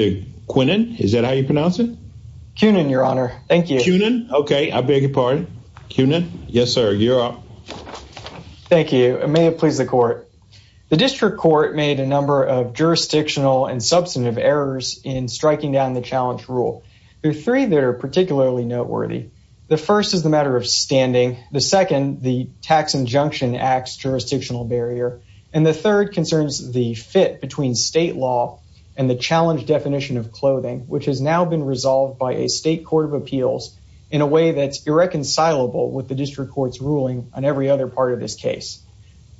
The District Court made a number of jurisdictional and substantive errors in striking down the challenge rule. There are three that are particularly noteworthy. The first is the matter of standing, the second the Tax Injunction Act's jurisdictional barrier, and the third concerns the fit between state law and the challenge definition of clothing, which has now been resolved by a state court of appeals in a way that's irreconcilable with the District Court's ruling on every other part of this case.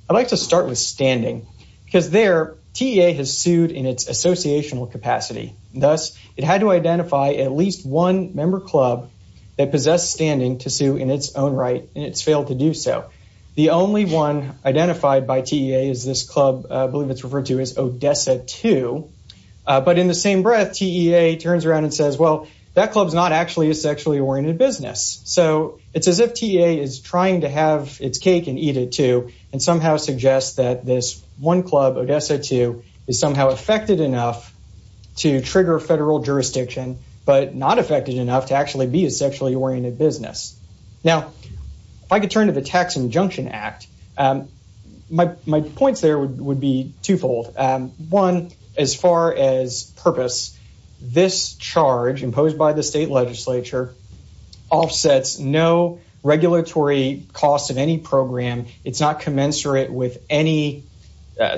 I'd like to start with standing because there, TEA has sued in its associational capacity. Thus, it had to identify at least one member club that possessed standing to sue in its own right, and it's failed to do so. The only one identified by TEA is this club, I believe it's referred to as Odessa 2. But in the same breath, TEA turns around and says, well, that club's not actually a sexually oriented business. So it's as if TEA is trying to have its cake and eat it too, and somehow suggests that this one club, Odessa 2, is somehow affected enough to trigger federal jurisdiction, but not affected enough to actually be a sexually oriented business. Now, if I could turn to the Tax Injunction Act, my points there would be twofold. One, as far as purpose, this charge imposed by the state legislature offsets no regulatory cost of any program. It's not commensurate with any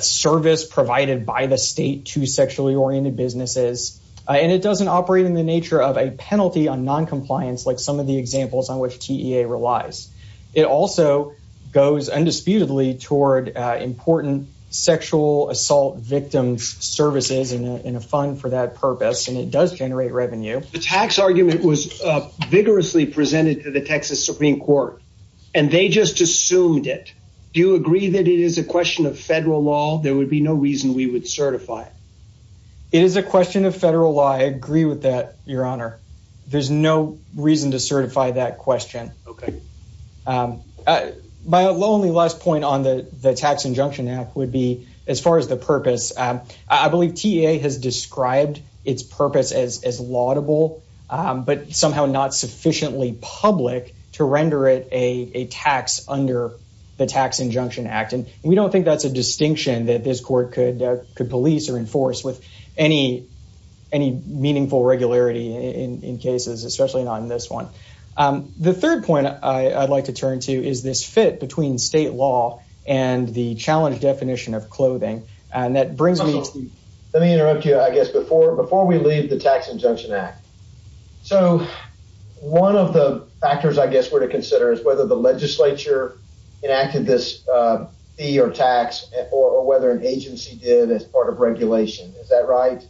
service provided by the state to sexually oriented businesses. And it doesn't operate in the nature of a penalty on noncompliance, like some of the examples on which TEA relies. It also goes undisputedly toward important sexual assault victims services in a fund for that purpose, and it does generate revenue. The tax argument was vigorously presented to the Texas Supreme Court, and they just assumed it. Do you agree that it is a question of federal law? There would be no reason we would certify it. It is a question of federal law. I agree with that, Your Honor. There's no reason to certify that question. My only last point on the Tax Injunction Act would be, as far as the purpose, I believe TEA has described its purpose as laudable, but somehow not sufficiently public to render it a tax under the Tax Injunction Act. And we don't think that's a distinction that this court could police or enforce with any meaningful regularity in cases, especially not in this one. The third point I'd like to turn to is this fit between state law and the challenge definition of clothing. And that brings me to... Let me interrupt you, I guess, before we leave the Tax Injunction Act. So one of the factors I guess we're to consider is whether the legislature enacted this fee or tax, or whether an agency did as part of regulation. Is that right?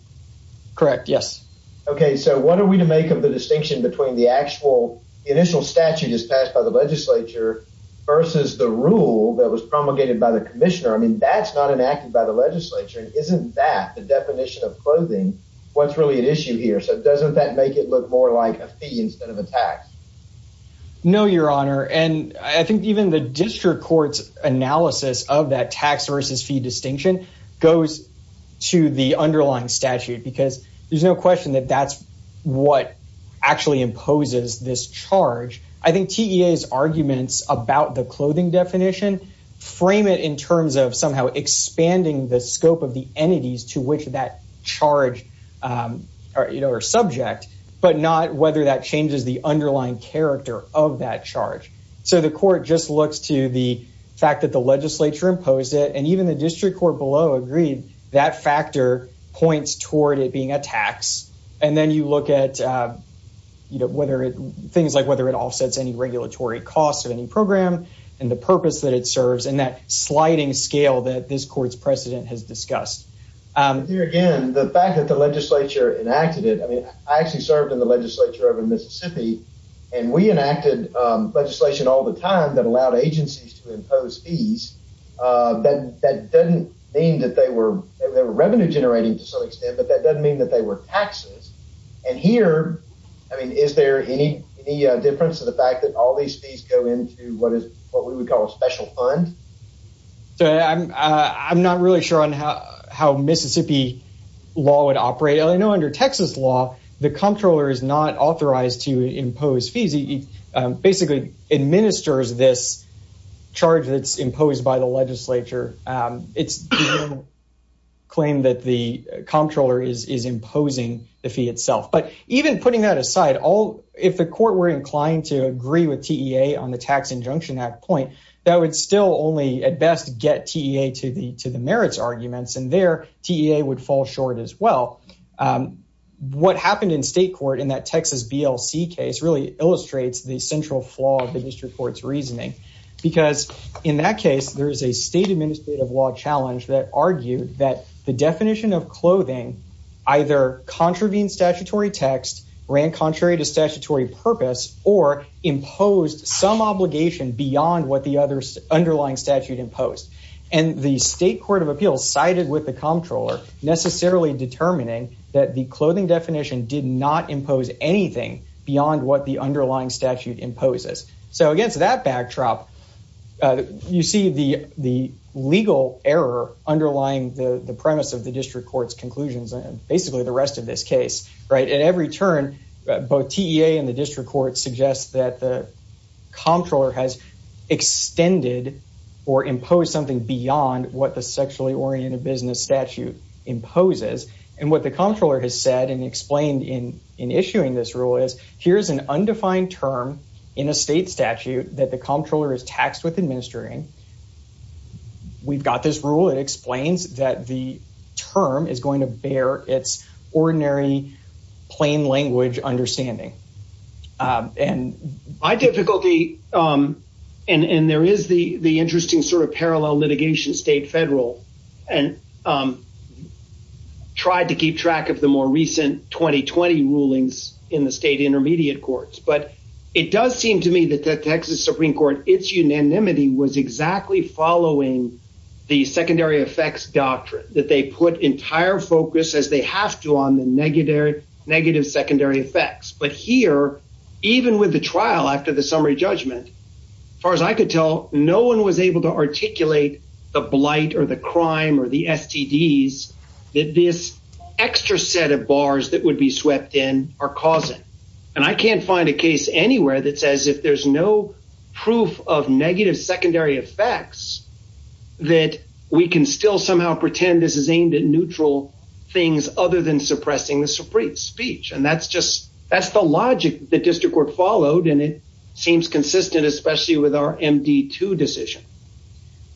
Correct. Yes. Okay. So what are we to make of the distinction between the actual initial statute is passed by the legislature versus the rule that was promulgated by the commissioner? I mean, that's not enacted by the legislature. And isn't that the definition of clothing what's really at issue here? So doesn't that make it look more like a fee instead of a tax? No, Your Honor. And I think even the district court's analysis of that tax versus fee distinction goes to the underlying statute, because there's no question that that's what actually imposes this charge. I think TEA's arguments about the clothing definition frame it in terms of somehow expanding the scope of the entities to which that charge or subject, but not whether that changes the underlying character of that charge. So the court just looks to the fact that the legislature imposed it, and even the district court below agreed that factor points toward it being a tax. And then you look at, you know, whether it things like whether it offsets any regulatory costs of any program, and the purpose that it serves in that sliding scale that this court's precedent has discussed. Here again, the fact that the legislature enacted it, I mean, I actually served in the legislature over in Mississippi, and we enacted legislation all the time that allowed agencies to impose fees. That doesn't mean that they were revenue generating to some extent, but that doesn't mean that they were taxes. And here, I mean, is there any difference to the fact that all these fees go into what is what we would call a special fund? So I'm not really sure on how Mississippi law would operate. I know under Texas law, the comptroller is not authorized to impose fees. He basically administers this charge that's imposed by the legislature. It's the claim that the comptroller is imposing the fee itself. But even putting that aside, if the court were inclined to agree with TEA on the Tax Injunction Act point, that would still only at best get TEA to the merits arguments. And there, TEA would fall short as well. What happened in state court in that Texas BLC case really illustrates the central flaw of the district court's reasoning. Because in that case, there is a state administrative law challenge that argued that the definition of clothing either contravened statutory text, ran contrary to statutory purpose, or imposed some obligation beyond what the underlying statute imposed. And the state court of appeals sided with the comptroller, necessarily determining that the clothing definition did not impose anything beyond what the underlying statute imposes. So against that backdrop, you see the legal error underlying the premise of the district court's reasoning. TEA and the district court suggest that the comptroller has extended or imposed something beyond what the sexually oriented business statute imposes. And what the comptroller has said and explained in issuing this rule is, here's an undefined term in a state statute that the comptroller is taxed with administering. We've got this rule, it explains that the term is going to bear its extraordinary, plain language understanding. And my difficulty, and there is the the interesting sort of parallel litigation state federal, and tried to keep track of the more recent 2020 rulings in the state intermediate courts. But it does seem to me that the Texas Supreme Court, its unanimity was exactly following the negative secondary effects. But here, even with the trial after the summary judgment, as far as I could tell, no one was able to articulate the blight or the crime or the STDs that this extra set of bars that would be swept in are causing. And I can't find a case anywhere that says if there's no proof of negative secondary effects, that we can still somehow pretend this is aimed at neutral things other than suppressing the Supreme speech. And that's just, that's the logic the district court followed. And it seems consistent, especially with our MD2 decision.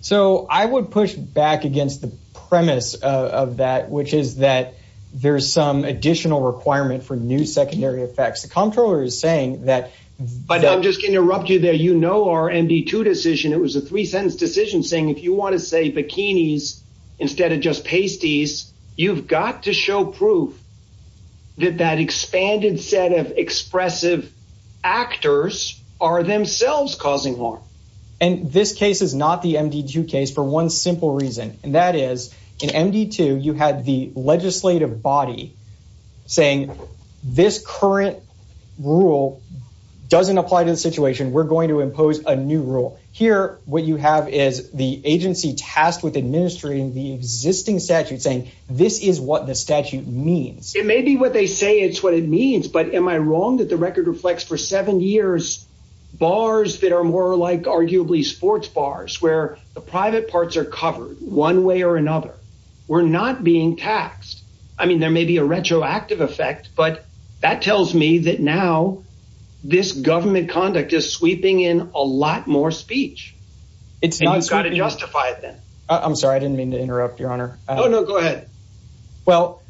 So I would push back against the premise of that, which is that there's some additional requirement for new secondary effects. The comptroller is saying that... But I'm just going to interrupt you there, you know, our MD2 decision, it was a three sentence decision saying, if you want to say there's no proof, that that expanded set of expressive actors are themselves causing harm. And this case is not the MD2 case for one simple reason. And that is, in MD2, you had the legislative body saying, this current rule doesn't apply to the situation, we're going to impose a new rule. Here, what you have is the agency tasked with administering the existing statute saying, this is what the statute means. It may be what they say it's what it means. But am I wrong that the record reflects for seven years, bars that are more like arguably sports bars, where the private parts are covered one way or another, we're not being taxed. I mean, there may be a retroactive effect. But that tells me that now, this government conduct is sweeping in a lot more speech. It's not going to justify it then. I'm sorry, I didn't mean to interrupt your honor. Oh, no, go ahead. Well,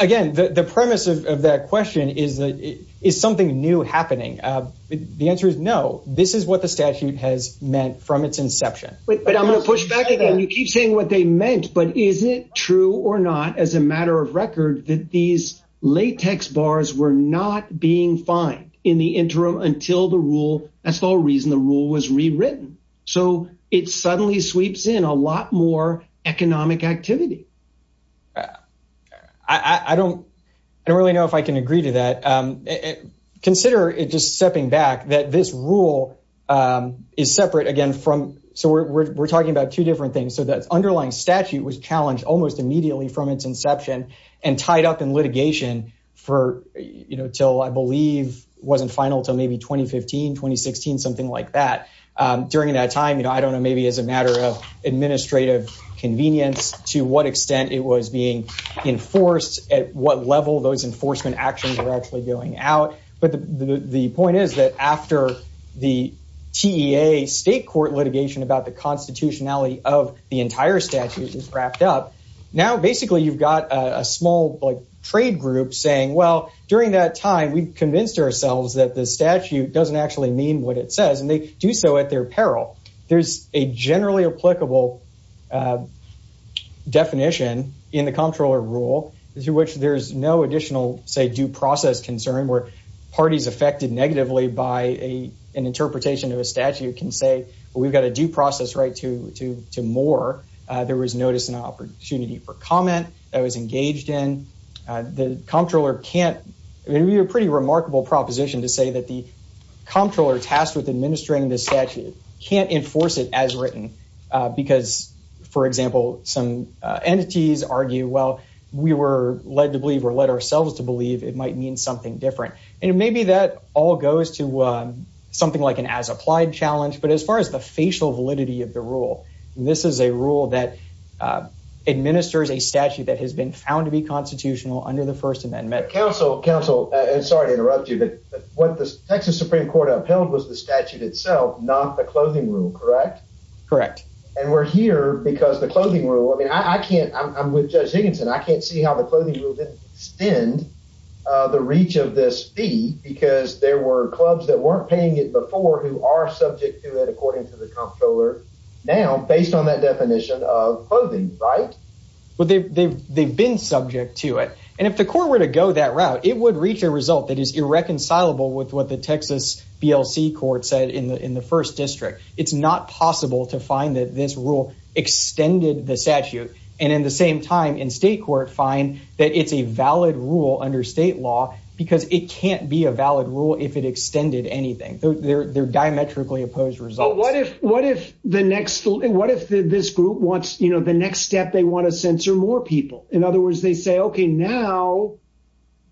again, the premise of that question is, is something new happening? The answer is no, this is what the statute has meant from its inception. But I'm going to push back again, you keep saying what they meant, but is it true or not, as a matter of record that these latex bars were not being fined in the interim until the rule? That's all reason the rule was rewritten. So it suddenly sweeps in a lot more economic activity. I don't, I don't really know if I can agree to that. Consider it just stepping back that this rule is separate, again, from so we're talking about two different things. So that's underlying statute was challenged almost immediately from its inception, and tied up in I believe, wasn't final till maybe 2015, 2016, something like that. During that time, you know, I don't know, maybe as a matter of administrative convenience, to what extent it was being enforced at what level those enforcement actions are actually going out. But the point is that after the TEA state court litigation about the constitutionality of the entire statute is wrapped up. Now, basically, you've got a small, like trade group saying, well, during that time, we've convinced ourselves that the statute doesn't actually mean what it says, and they do so at their peril. There's a generally applicable definition in the comptroller rule, through which there's no additional, say, due process concern where parties affected negatively by a, an interpretation of a statute can say, we've got a due process right to, to, to more, there was notice and opportunity for comment that was engaged in the comptroller can't be a pretty remarkable proposition to say that the comptroller tasked with administering the statute can't enforce it as written. Because, for example, some entities argue, well, we were led to believe or led ourselves to believe it might mean something different. And maybe that all goes to something like an as applied challenge. But as far as the facial validity of the rule, this is a rule that administers a statute that has been found to be constitutional under the First Amendment. Counsel, counsel, sorry to interrupt you, but what the Texas Supreme Court upheld was the statute itself, not the clothing rule, correct? Correct. And we're here because the clothing rule, I mean, I can't, I'm with Judge Higginson, I can't see how the clothing rule didn't extend the reach of this fee because there were clubs that weren't paying it before who are subject to it, according to the comptroller. Now, based on that definition of clothing, right? Well, they've, they've, they've been subject to it. And if the court were to go that route, it would reach a result that is irreconcilable with what the Texas BLC court said in the in the first district, it's not possible to find that this rule extended the statute. And in the same time, in state court find that it's a valid rule under state law, because it can't be a valid rule if it extended anything. They're diametrically opposed result. What if what if the next? What if this group wants, you know, the next step, they want to censor more people? In other words, they say, okay, now,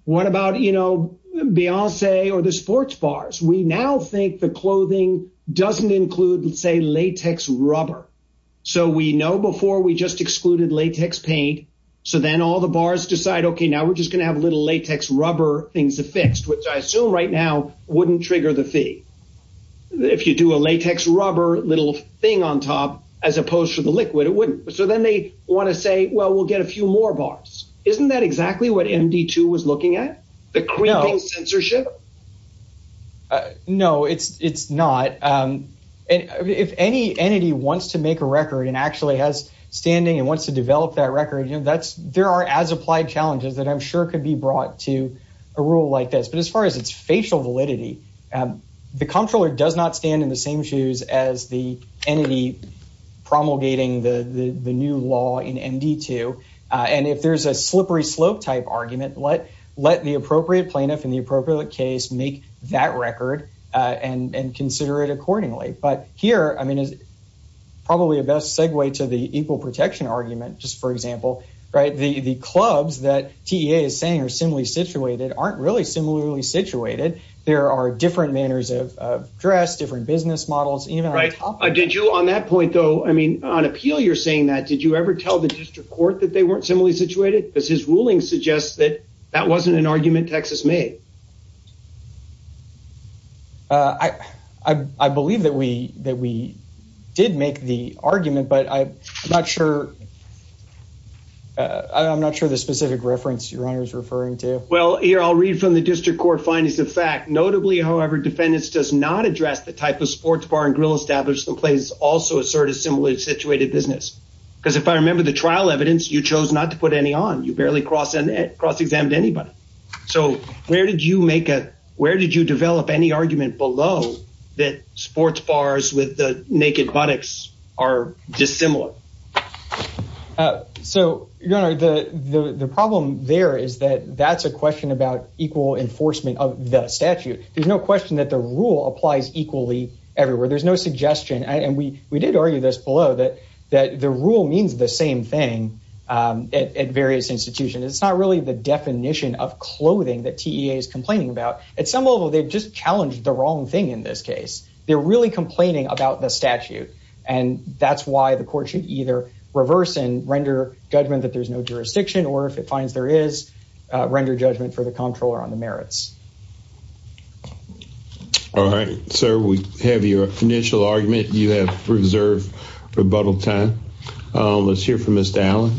what about, you know, we now think the clothing doesn't include, let's say, latex rubber. So we know before we just excluded latex paint. So then all the bars decide, okay, now we're just gonna have a little latex rubber things affixed, which I assume right now wouldn't trigger the fee. If you do a latex rubber little thing on top, as opposed to the liquid, it then they want to say, well, we'll get a few more bars. Isn't that exactly what MD two was looking at the censorship? No, it's it's not. And if any entity wants to make a record and actually has standing and wants to develop that record, you know, that's there are as applied challenges that I'm sure could be brought to a rule like this. But as far as its facial validity, the comptroller does not stand in the same shoes as the entity promulgating the the new law in MD two. And if there's a slippery slope type argument, let let the appropriate plaintiff in the appropriate case, make that record and consider it accordingly. But here, I mean, is probably a best segue to the equal protection argument, just for example, right, the the clubs that TA is saying are similarly situated aren't really similarly situated. There are different manners of dress, different business models, even I did you on that point, though, I mean, on appeal, you're saying that did you ever tell the district court that they weren't similarly situated because his ruling suggests that that wasn't an argument Texas made. I, I believe that we that we did make the argument, but I'm not sure. I'm not sure the specific reference your honor is referring to well, here, I'll read from the district court findings of fact, notably, however, defendants does not address the type of sports bar and grill established in place also assert a similarly situated business. Because if I remember the trial evidence, you chose not to put any on you barely cross and cross examined anybody. So where did you draw the line? Where did you make it? Where did you develop any argument below that sports bars with the naked buttocks are dissimilar? So, your honor, the the problem there is that that's a question about equal enforcement of the statute. There's no question that the rule applies equally everywhere. There's no suggestion and we we did argue this below that, that the rule means the same thing at various institutions. It's not really the definition of clothing that is complaining about at some level. They've just challenged the wrong thing. In this case, they're really complaining about the statute and that's why the court should either reverse and render judgment that there's no jurisdiction, or if it finds there is a render judgment for the comptroller on the merits. All right, sir, we have your initial argument. You have preserved rebuttal time. Let's hear from this down.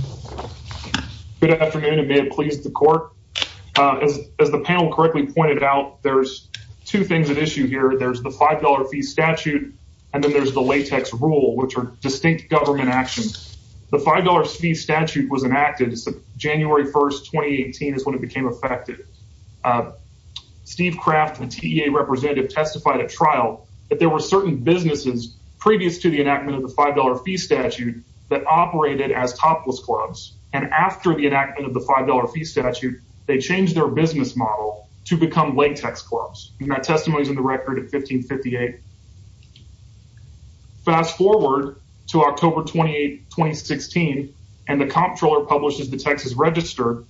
Good afternoon, and may it please the court. As the panel correctly pointed out, there's 2 things at issue here. There's the 5 dollar fee statute, and then there's the latex rule, which are distinct government actions. The 5 dollar fee statute was enacted. January 1st, 2018 is when it became effective. Steve Kraft, the TEA representative, testified at trial that there were certain businesses previous to the enactment of the 5 dollar fee statute that operated as topless clubs, and after the enactment of the 5 dollar fee statute, they changed their business model to become latex clubs. And that testimony is in the record at 1558. Fast forward to October 28, 2016, and the comptroller publishes the Texas Register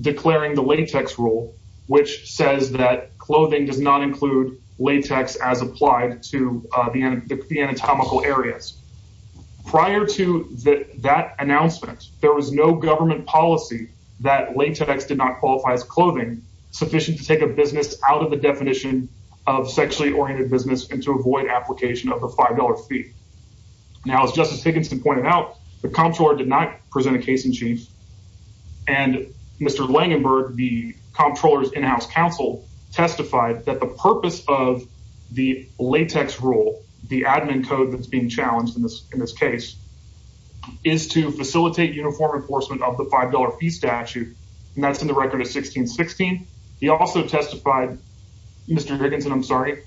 declaring the latex rule, which says that clothing does not include latex as applied to the anatomical areas. Prior to that announcement, there was no government policy that latex did not qualify as clothing sufficient to take a business out of the definition of sexually oriented business and to avoid application of the 5 dollar fee. Now, as Justice Higginson pointed out, the comptroller did not present a case in chief, and Mr. Langenberg, the comptroller's in-house counsel, testified that the purpose of the latex rule, the admin code that's being challenged in this case, is to facilitate uniform enforcement of the 5 dollar fee statute, and that's in the record of 1616. He also testified, Mr. Higginson, I'm sorry.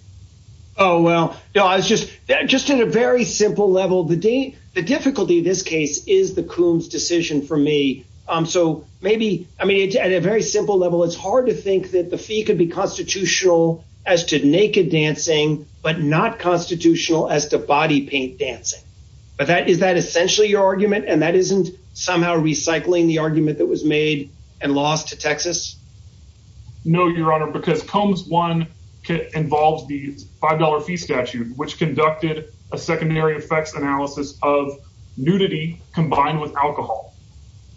Oh, well, no, I was just, just in a very simple level, the difficulty in this case is the Coombs decision for me. So maybe, I mean, at a very simple level, it's hard to think that the fee could be constitutional as to naked dancing, but not constitutional as to body paint dancing. But that, is that essentially your argument? And that isn't somehow recycling the argument that was made and lost to Texas? No, Your Honor, because Coombs 1 involves the 5 dollar fee statute, which conducted a secondary effects analysis of nudity combined with alcohol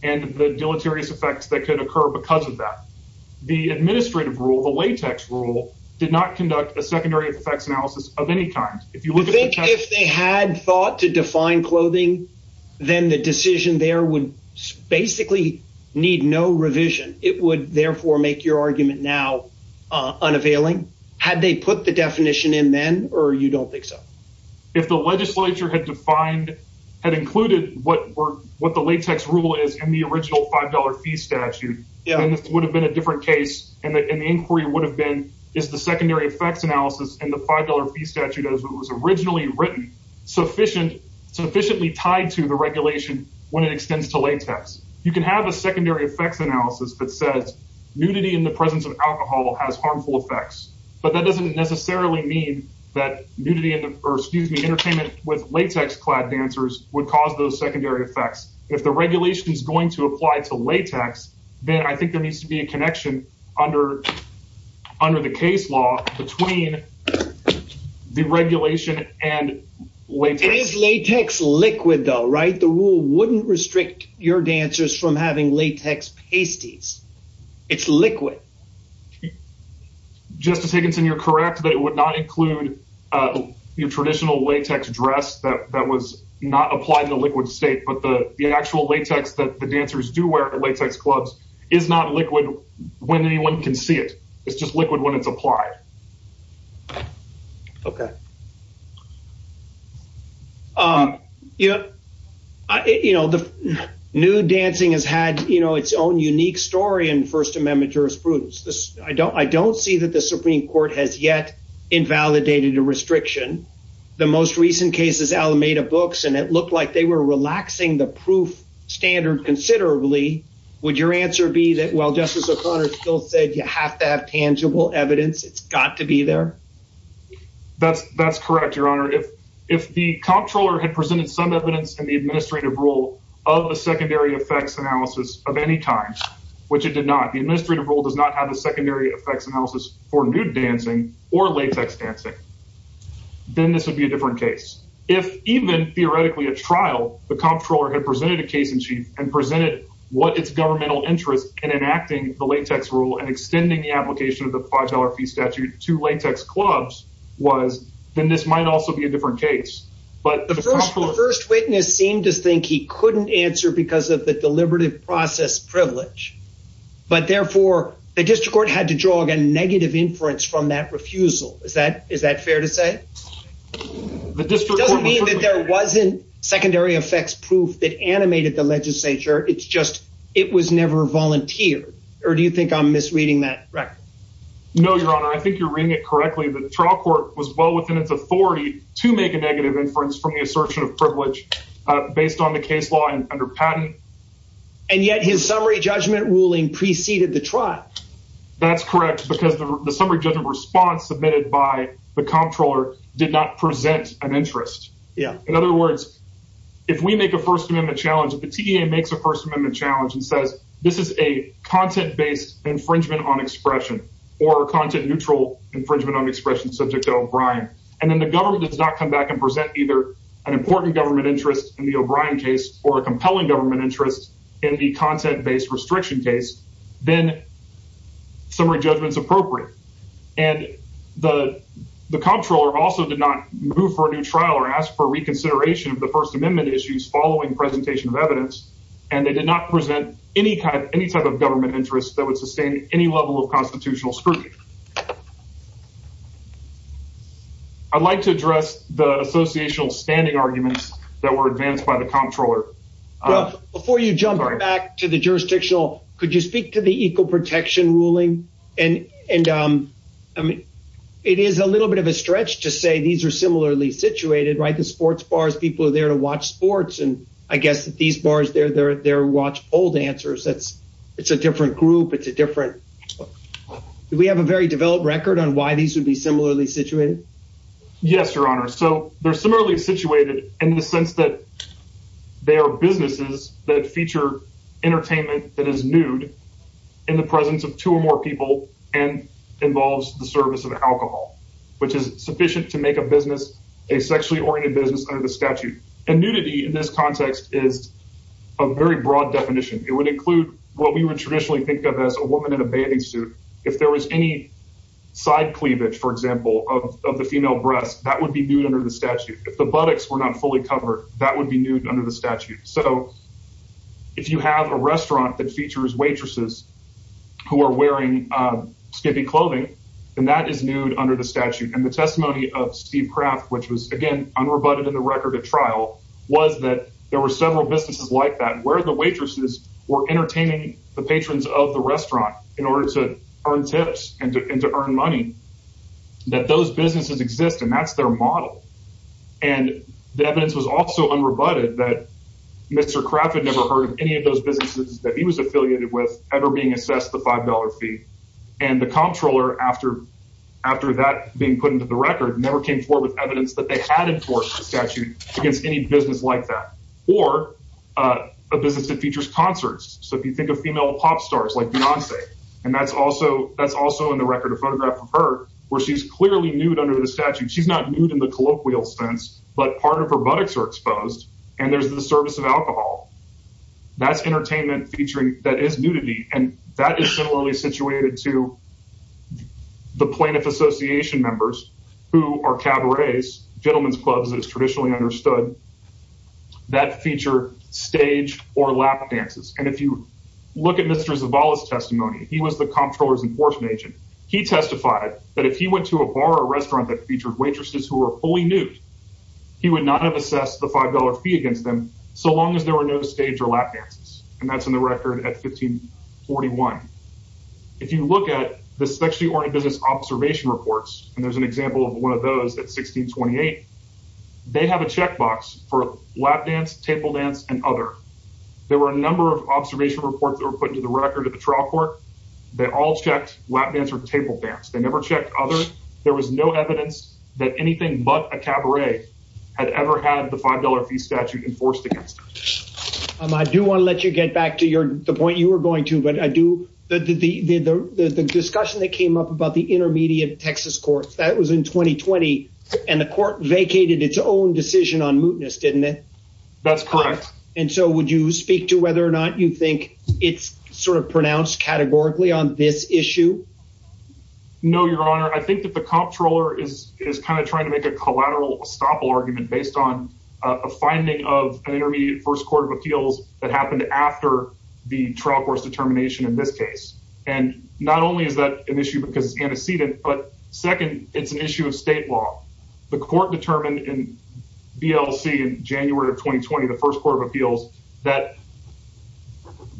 and the deleterious effects that could occur because of that. The administrative rule, the latex rule, did not conduct a secondary effects analysis of any kind. If they had thought to define clothing, then the decision there would basically need no revision. It would therefore make your argument now unavailing. Had they put the definition in then, or you don't think so? If the legislature had defined, had included what the latex rule is in the original 5 dollar fee statute, then this would have been a different case. And the inquiry would have been, is the secondary effects analysis in the 5 dollar fee statute as it was originally written, sufficiently tied to the regulation when it extends to latex? You can have a secondary effects analysis that says nudity in the presence of alcohol has harmful effects. But that doesn't necessarily mean that nudity, or excuse me, entertainment with latex clad dancers would cause those secondary effects. If the regulation is going to apply to latex, then I think there needs to be a connection under the case law between the regulation and latex. Latex liquid though, right? The rule wouldn't restrict your dancers from having latex pasties. It's liquid. Justice Higginson, you're correct, but it would not include your traditional latex dress that was not applied in the liquid state. But the actual latex that the dancers do wear at latex clubs is not liquid when anyone can see it. It's just liquid when it's applied. Okay. Yeah. You know, the nude dancing has had, you know, its own unique story in First Amendment jurisprudence. I don't I don't see that the Supreme Court has yet invalidated a restriction. The most recent case is Alameda Books, and it looked like they were relaxing the proof standard considerably. Would your answer be that while Justice O'Connor still said you have to have tangible evidence, it's got to be there? That's correct, Your Honor. If the comptroller had presented some evidence in the administrative rule of a secondary effects analysis of any kind, which it did not, the administrative rule does not have a secondary effects analysis for nude dancing or latex dancing, then this would be a different case. If even theoretically a trial, the comptroller had presented a case in chief and presented what its governmental interest in enacting the latex rule and extending the application of the $5 fee statute to latex clubs was, then this might also be a different case. But the first witness seemed to think he couldn't answer because of the deliberative process privilege. But therefore, the district court had to draw a negative inference from that refusal. Is that is that fair to say? The district doesn't mean that there wasn't secondary effects proof that animated the legislature. It's just it was never volunteered. Or do you think I'm misreading that? No, Your Honor. I think you're reading it correctly. The trial court was well within its authority to make a negative inference from the assertion of privilege based on the case law and under patent. And yet his summary judgment ruling preceded the trial. That's correct, because the summary judgment response submitted by the comptroller did not present an interest. In other words, if we make a First Amendment challenge, if the T.E.A. makes a First Amendment challenge and says this is a content based infringement on expression or content neutral infringement on expression subject to O'Brien, and then the government does not come back and present either an important government interest in the O'Brien case or a compelling government interest in the content based restriction case, then summary judgment is appropriate. And the comptroller also did not move for a new trial or ask for reconsideration of the First Amendment issues following presentation of evidence. And they did not present any kind of any type of government interest that would sustain any level of constitutional scrutiny. I'd like to address the associational standing arguments that were advanced by the comptroller. Before you jump back to the jurisdictional, could you speak to the equal protection ruling? And and I mean, it is a little bit of a stretch to say these are similarly situated, right? The sports bars, people are there to watch sports. And I guess that these bars, they're there. They're watch old answers. That's it's a different group. It's a different we have a very developed record on why these would be similarly situated. Yes, Your Honor. So they're similarly situated in the sense that they are businesses that feature entertainment that is nude in the presence of two or more people and involves the service of alcohol, which is sufficient to make a business a sexually oriented business under the statute. And nudity in this context is a very broad definition. It would include what we would traditionally think of as a woman in a bathing suit. If there was any side cleavage, for example, of the female breast, that would be nude under the statute. If the buttocks were not fully covered, that would be nude under the statute. So if you have a restaurant that features waitresses who are wearing skimpy clothing, then that is nude under the statute. And the testimony of Steve Kraft, which was, again, unrebutted in the record at trial, was that there were several businesses like that where the waitresses were entertaining the patrons of the restaurant in order to earn tips and to earn money. That those businesses exist, and that's their model. And the evidence was also unrebutted that Mr. Kraft had never heard of any of those businesses that he was affiliated with ever being assessed the $5 fee. And the comptroller, after that being put into the record, never came forward with evidence that they had enforced the statute against any business like that. Or a business that features concerts. So if you think of female pop stars like Beyonce, and that's also in the record, a photograph of her, where she's clearly nude under the statute. She's not nude in the colloquial sense, but part of her buttocks are exposed, and there's the service of alcohol. That's entertainment featuring, that is nudity. And that is similarly situated to the plaintiff association members who are cabarets, gentlemen's clubs as traditionally understood, that feature stage or lap dances. And if you look at Mr. Zavala's testimony, he was the comptroller's enforcement agent. He testified that if he went to a bar or restaurant that featured waitresses who were fully nude, he would not have assessed the $5 fee against them so long as there were no stage or lap dances. And that's in the record at 1541. If you look at the sexually oriented business observation reports, and there's an example of one of those at 1628, they have a checkbox for lap dance, table dance, and other. There were a number of observation reports that were put into the record at the trial court. They all checked lap dance or table dance. They never checked other. There was no evidence that anything but a cabaret had ever had the $5 fee statute enforced against them. I do want to let you get back to the point you were going to. But the discussion that came up about the Intermediate Texas Court, that was in 2020. And the court vacated its own decision on mootness, didn't it? That's correct. And so would you speak to whether or not you think it's sort of pronounced categorically on this issue? No, your honor. I think that the comptroller is kind of trying to make a collateral estoppel argument based on a finding of an intermediate first court of appeals that happened after the trial court's determination in this case. And not only is that an issue because it's antecedent, but second, it's an issue of state law. The court determined in BLC in January of 2020, the first court of appeals that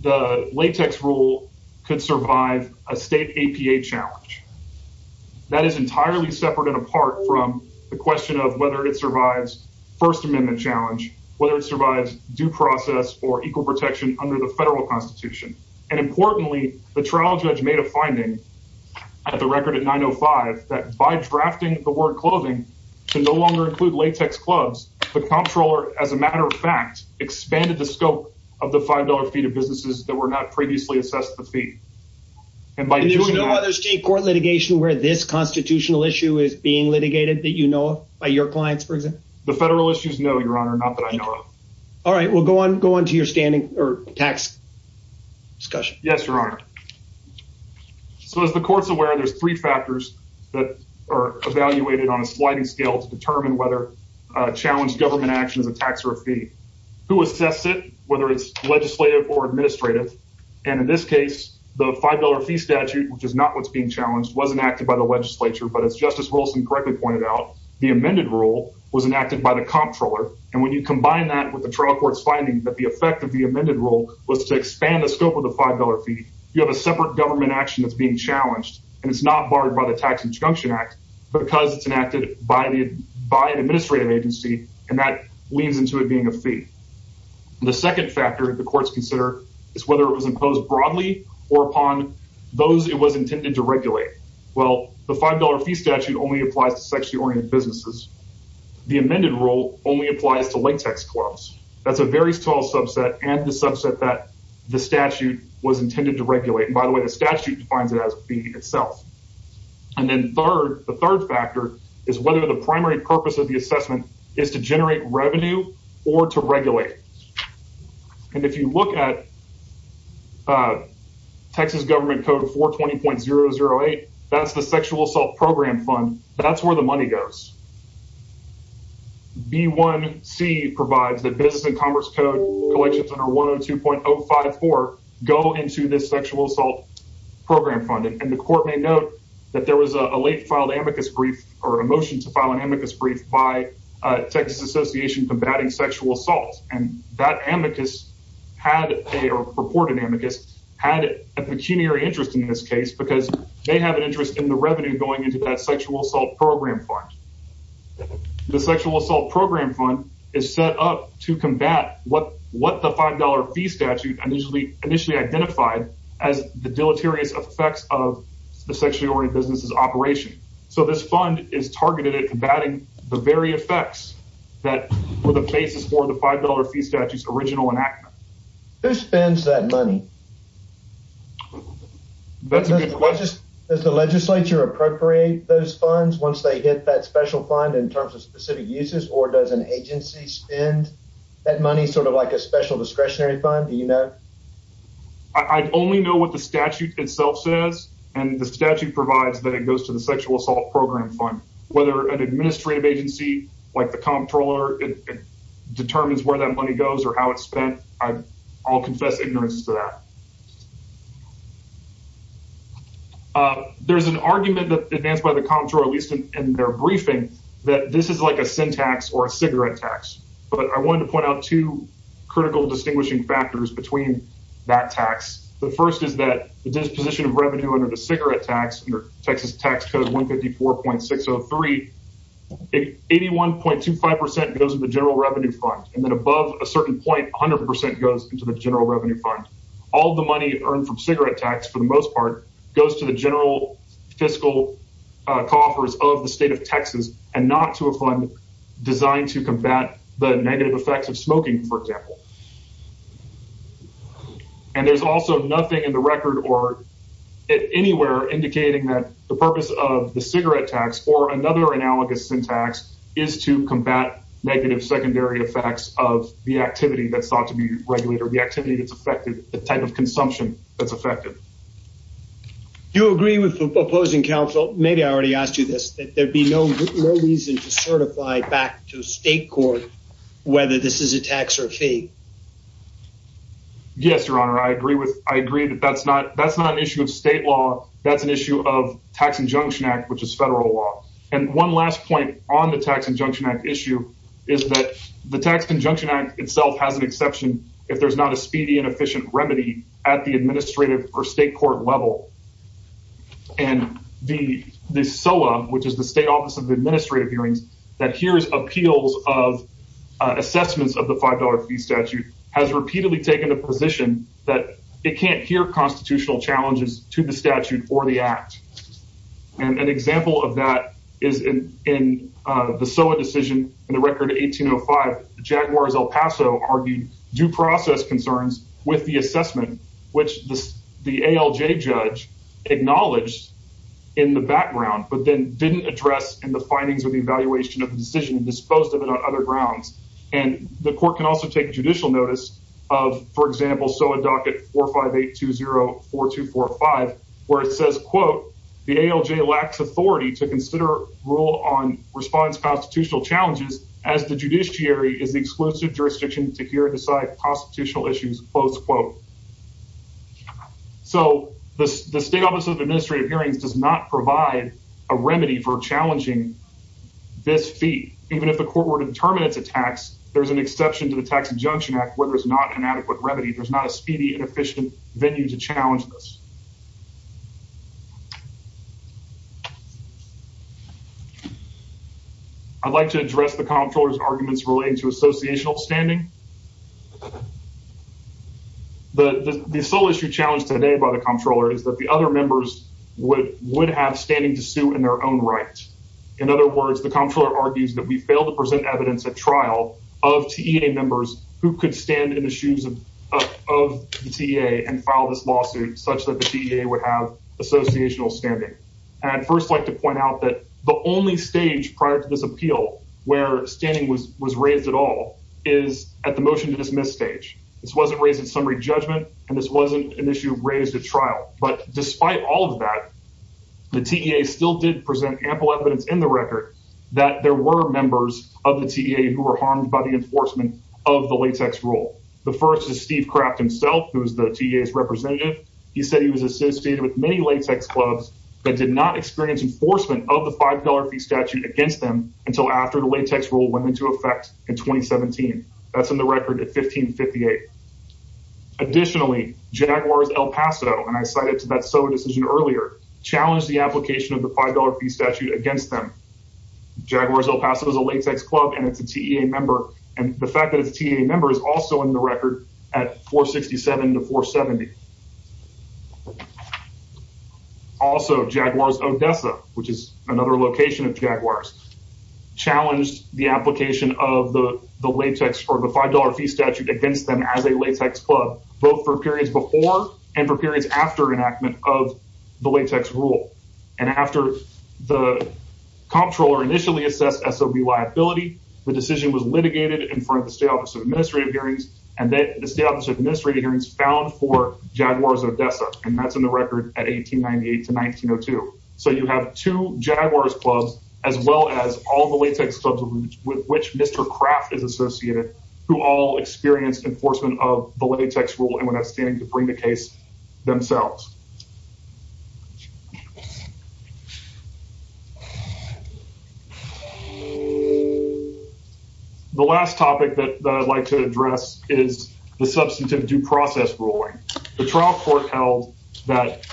the latex rule could survive a state APA challenge. That is entirely separate and apart from the question of whether it survives first amendment challenge, whether it survives due process or equal protection under the federal constitution. And importantly, the trial judge made a finding at the record at 905 that by drafting the word clothing to no longer include latex clubs, the comptroller, as a matter of fact, expanded the scope of the $5 fee to businesses that were not previously assessed the fee. And by no other state court litigation where this constitutional issue is being litigated that, you know, by your clients, for example, the federal issues. No, your honor. Not that I know of. All right. We'll go on, go on to your standing or tax discussion. Yes, your honor. So as the court's aware, there's three factors that are evaluated on a sliding scale to determine whether a challenge government action is a tax or a fee. Who assess it, whether it's legislative or administrative. And in this case, the $5 fee statute, which is not what's being challenged, was enacted by the legislature. But as Justice Wilson correctly pointed out, the amended rule was enacted by the comptroller. And when you combine that with the trial court's finding that the effect of the amended rule was to expand the scope of the $5 fee, you have a separate government action that's being challenged. And it's not barred by the tax injunction act because it's enacted by an administrative agency. And that leans into it being a fee. The second factor the courts consider is whether it was imposed broadly or upon those it was intended to regulate. Well, the $5 fee statute only applies to sexually oriented businesses. The amended rule only applies to latex clubs. That's a very small subset and the subset that the statute was intended to regulate. And by the way, the statute defines it as being itself. And then the third factor is whether the primary purpose of the assessment is to generate revenue or to regulate. And if you look at Texas government code 420.008, that's the sexual assault program fund. That's where the money goes. B1C provides that business and commerce code collections under 102.054 go into this sexual assault program funding. And the court may note that there was a late filed amicus brief or a motion to file an amicus brief by Texas Association Combating Sexual Assault. And that amicus had a, or purported amicus, had a pecuniary interest in this case because they have an interest in the revenue going into that sexual assault program fund. The sexual assault program fund is set up to combat what the $5 fee statute initially identified as the deleterious effects of the sexually oriented businesses operation. So this fund is targeted at combating the very effects that were the basis for the $5 fee statute's original enactment. Who spends that money? Does the legislature appropriate those funds once they hit that special fund in terms of specific uses or does an agency spend that money sort of like a special discretionary fund, do you know? I only know what the statute itself says and the statute provides that it goes to the sexual assault program fund. Whether an administrative agency like the comptroller determines where that money goes or how it's spent, I'll confess ignorance to that. There's an argument that advanced by the comptroller, at least in their briefing, that this is like a sin tax or a cigarette tax, but I wanted to point out two critical distinguishing factors between that tax. The first is that the disposition of revenue under the cigarette tax under Texas tax code 154.603, 81.25% goes to the general revenue fund and then above a certain point, 100% goes into the general revenue fund. All the money earned from cigarette tax, for the most part, goes to the general fiscal coffers of the state of Texas and not to a fund designed to combat the negative effects of smoking, for example. And there's also nothing in the record or anywhere indicating that the purpose of the cigarette tax or another analogous sin tax is to combat negative secondary effects of the activity that's thought to be regulated. The activity that's affected, the type of consumption that's affected. Do you agree with the opposing counsel? Maybe I already asked you this, that there'd be no reason to certify back to state court whether this is a tax or a fee. Yes, your honor. I agree with I agree that that's not that's not an issue of state law. That's an issue of tax injunction act, which is federal law. And one last point on the tax injunction act issue is that the tax injunction act itself has an exception if there's not a speedy and efficient remedy at the administrative or state court level. And the SOA, which is the state office of administrative hearings, that hears appeals of assessments of the $5 fee statute has repeatedly taken a position that it can't hear constitutional challenges to the statute or the act. And an example of that is in the SOA decision in the record 1805, Jaguars El Paso argued due process concerns with the assessment, which the ALJ judge acknowledged in the background, but then didn't address in the findings of the evaluation of the decision disposed of it on other grounds. And the court can also take judicial notice of, for example, SOA docket 458204245, where it says, quote, the ALJ lacks authority to consider rule on response constitutional challenges as the judiciary is the exclusive jurisdiction to hear and decide constitutional issues, close quote. So the state office of administrative hearings does not provide a remedy for challenging this fee, even if the court were to determine it's a tax, there's an exception to the tax injunction act where there's not an adequate remedy. There's not a speedy and efficient venue to challenge this. I'd like to address the comptroller's arguments relating to associational standing. The sole issue challenged today by the comptroller is that the other members would would have standing to sue in their own right. In other words, the comptroller argues that we fail to present evidence at trial of T. A. members who could stand in the shoes of of the T. A. and file this lawsuit such that the T. A. would have associational standing and I'd first like to point out that the only stage prior to this appeal where standing was was raised at all is the T. A. At the motion to dismiss stage. This wasn't raised in summary judgment, and this wasn't an issue raised at trial. But despite all of that. The T. A. still did present ample evidence in the record that there were members of the T. A. who were harmed by the enforcement of the latex rule. The first is Steve craft himself, who's the T. A. is representative He said he was associated with many latex clubs that did not experience enforcement of the $5 fee statute against them until after the latex rule went into effect in 2017. That's in the record at 1558. Additionally, Jaguars El Paso and I cited to that. So decision earlier challenged the application of the $5 fee statute against them. Jaguars El Paso is a latex club and it's a T. A. member and the fact that it's a T. A. member is also in the record at 467 to 470 Also Jaguars Odessa, which is another location of Jaguars challenged the application of the latex or the $5 fee statute against them as a latex club, both for periods before and for periods after enactment of the latex rule. And after the comptroller initially assessed so be liability. The decision was litigated in front of the state office of administrative hearings and then the state office of administrative hearings found for Jaguars Odessa and that's in the record at 1898 to 1902 So you have two Jaguars clubs, as well as all the latex clubs with which Mr. Craft is associated who all experienced enforcement of the latex rule and when I stand to bring the case themselves. I would like to address is the substantive due process ruling. The trial court held that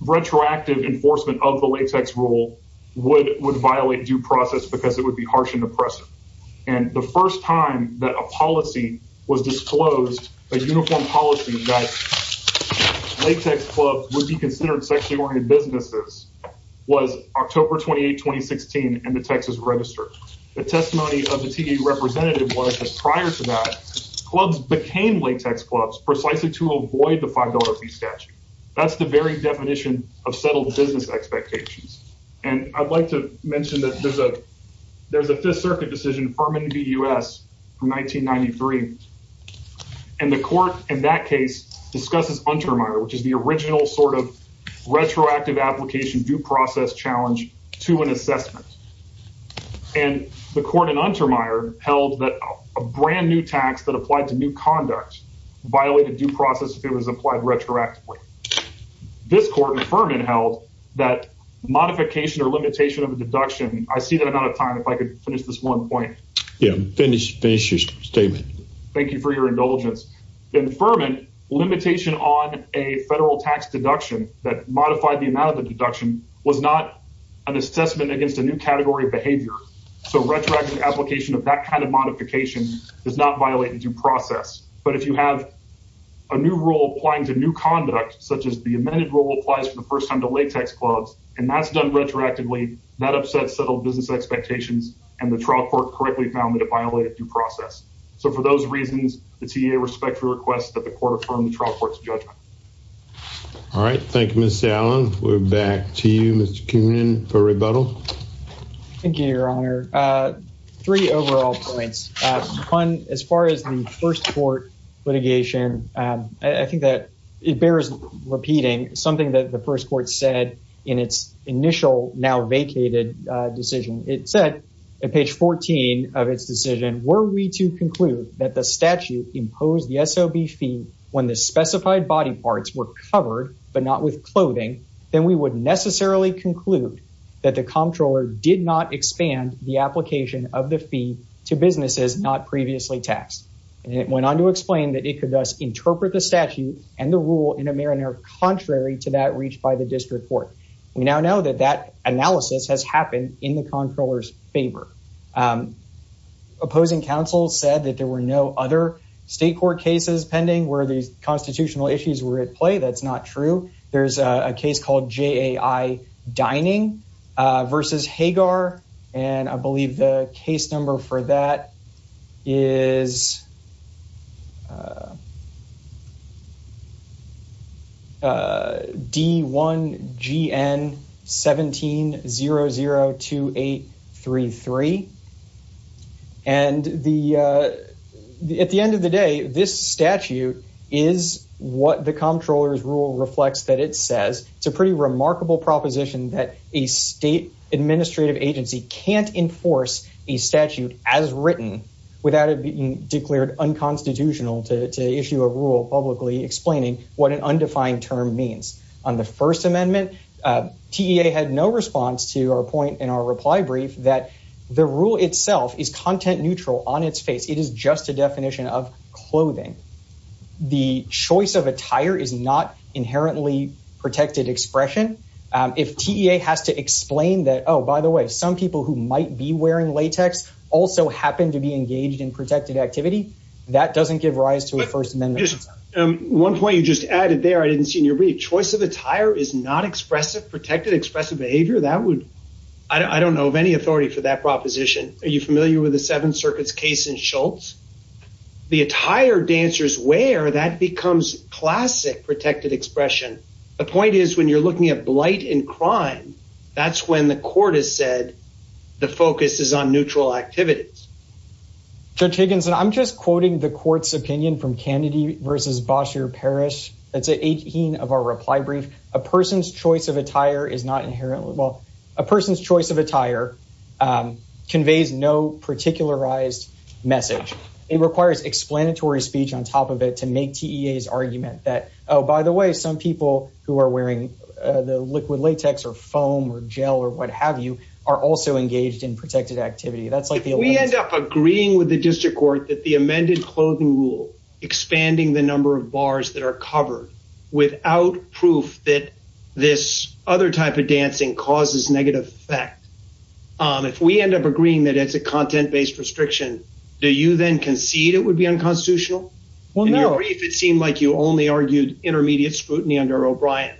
retroactive enforcement of the latex rule would would violate due process because it would be harsh and oppressive and the first time that a policy was disclosed, a uniform policy that Latex club would be considered sexually oriented businesses was October 28 2016 and the Texas register. The testimony of the TV representative was just prior to that clubs became latex clubs precisely to avoid the $5 fee statute. That's the very definition of settled business expectations. And I'd like to mention that there's a there's a Fifth Circuit decision from in the US from 1993 And the court in that case discusses which is the original sort of retroactive application due process challenge to an assessment and the court in held that a brand new tax that applied to new conduct violated due process. If it was applied retroactively This court inferment held that modification or limitation of a deduction. I see that amount of time. If I could finish this one point. Yeah, finish. Finish your statement. Thank you for your indulgence. Inferment limitation on a federal tax deduction that modified the amount of the deduction was not an assessment against a new category of behavior. So retroactive application of that kind of modification is not violated due process. But if you have A new rule applying to new conduct, such as the amended rule applies for the first time to latex clubs and that's done retroactively that upset settled business expectations and the trial court correctly found that it violated due process. So for those reasons, the TA respectfully requests that the court from the trial court's judgment. All right, thank you, Miss Allen. We're back to you, Mr. Coonan for rebuttal. Thank you, Your Honor. Three overall points on as far as the first court litigation. I think that it bears repeating something that the first court said in its initial now vacated decision. It said In page 14 of its decision, were we to conclude that the statute imposed the SOB fee when the specified body parts were covered, but not with clothing, then we would necessarily conclude That the comptroller did not expand the application of the fee to businesses not previously taxed. It went on to explain that it could thus interpret the statute and the rule in a manner contrary to that reached by the district court. We now know that that analysis has happened in the comptroller's favor. Opposing counsel said that there were no other state court cases pending where these constitutional issues were at play. That's not true. There's a case called J. I dining versus Hagar and I believe the case number for that is D1 G and 17 zero zero two eight three three. And the at the end of the day, this statute is what the comptroller rule reflects that it says it's a pretty remarkable proposition that a state administrative agency can't enforce a statute as written. Without it being declared unconstitutional to issue a rule publicly explaining what an undefined term means on the First Amendment. TA had no response to our point in our reply brief that the rule itself is content neutral on its face. It is just a definition of clothing. The choice of attire is not inherently protected expression. If T.A. has to explain that, oh, by the way, some people who might be wearing latex also happen to be engaged in protected activity. That doesn't give rise to a First Amendment. Just one point you just added there. I didn't see your brief choice of attire is not expressive, protected, expressive behavior. That would I don't know of any authority for that proposition. Are you familiar with the Seven Circuits case in Schultz? The attire dancers wear that becomes classic protected expression. The point is, when you're looking at blight and crime, that's when the court has said the focus is on neutral activities. Judge Higginson, I'm just quoting the court's opinion from Kennedy versus Bossier Parish. That's 18 of our reply brief. A person's choice of attire is not inherently well, a person's choice of attire conveys no particularized message. It requires explanatory speech on top of it to make T.A.'s argument that, oh, by the way, some people who are wearing the liquid latex or foam or gel or what have you are also engaged in protected activity. That's like we end up agreeing with the district court that the amended clothing rule expanding the number of bars that are covered without proof that this other type of dancing causes negative effect. If we end up agreeing that it's a content based restriction, do you then concede it would be unconstitutional? Well, no, if it seemed like you only argued intermediate scrutiny under O'Brien.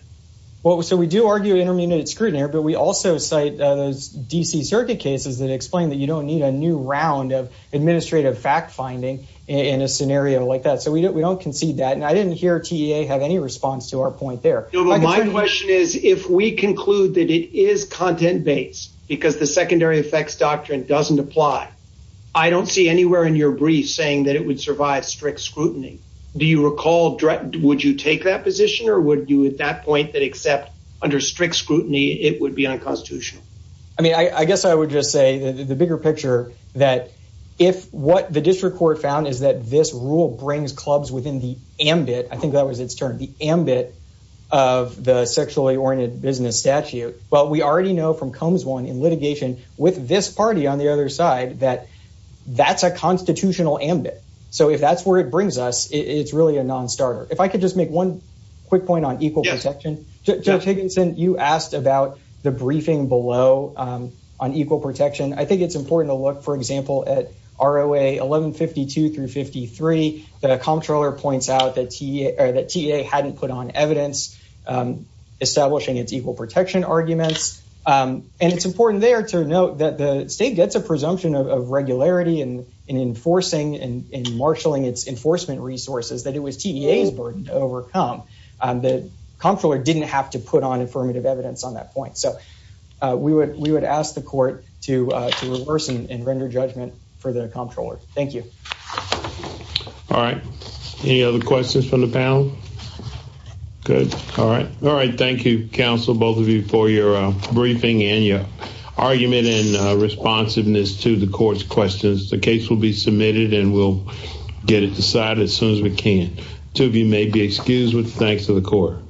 Well, so we do argue intermediate scrutiny here, but we also cite those D.C. circuit cases that explain that you don't need a new round of administrative fact finding in a scenario like that. So we don't concede that. And I didn't hear T.A. have any response to our point there. My question is, if we conclude that it is content based because the secondary effects doctrine doesn't apply, I don't see anywhere in your brief saying that it would survive strict scrutiny. Do you recall? Would you take that position or would you at that point that except under strict scrutiny, it would be unconstitutional? I mean, I guess I would just say the bigger picture that if what the district court found is that this rule brings clubs within the ambit, I think that was its term, the ambit of the sexually oriented business statute. But we already know from comes one in litigation with this party on the other side that that's a constitutional ambit. So if that's where it brings us, it's really a nonstarter. If I could just make one quick point on equal protection. Judge Higginson, you asked about the briefing below on equal protection. I think it's important to look, for example, at R.O.A. 1152 through 53, the comptroller points out that T.A. hadn't put on evidence establishing its equal protection arguments. And it's important there to note that the state gets a presumption of regularity and in enforcing and marshalling its enforcement resources that it was T.A.'s burden to overcome. The comptroller didn't have to put on affirmative evidence on that point. So we would we would ask the court to reverse and render judgment for the comptroller. Thank you. All right. Any other questions from the panel? Good. All right. All right. Thank you, counsel, both of you for your briefing and your argument and responsiveness to the court's questions. The case will be submitted and we'll get it decided as soon as we can. Two of you may be excused with thanks to the court.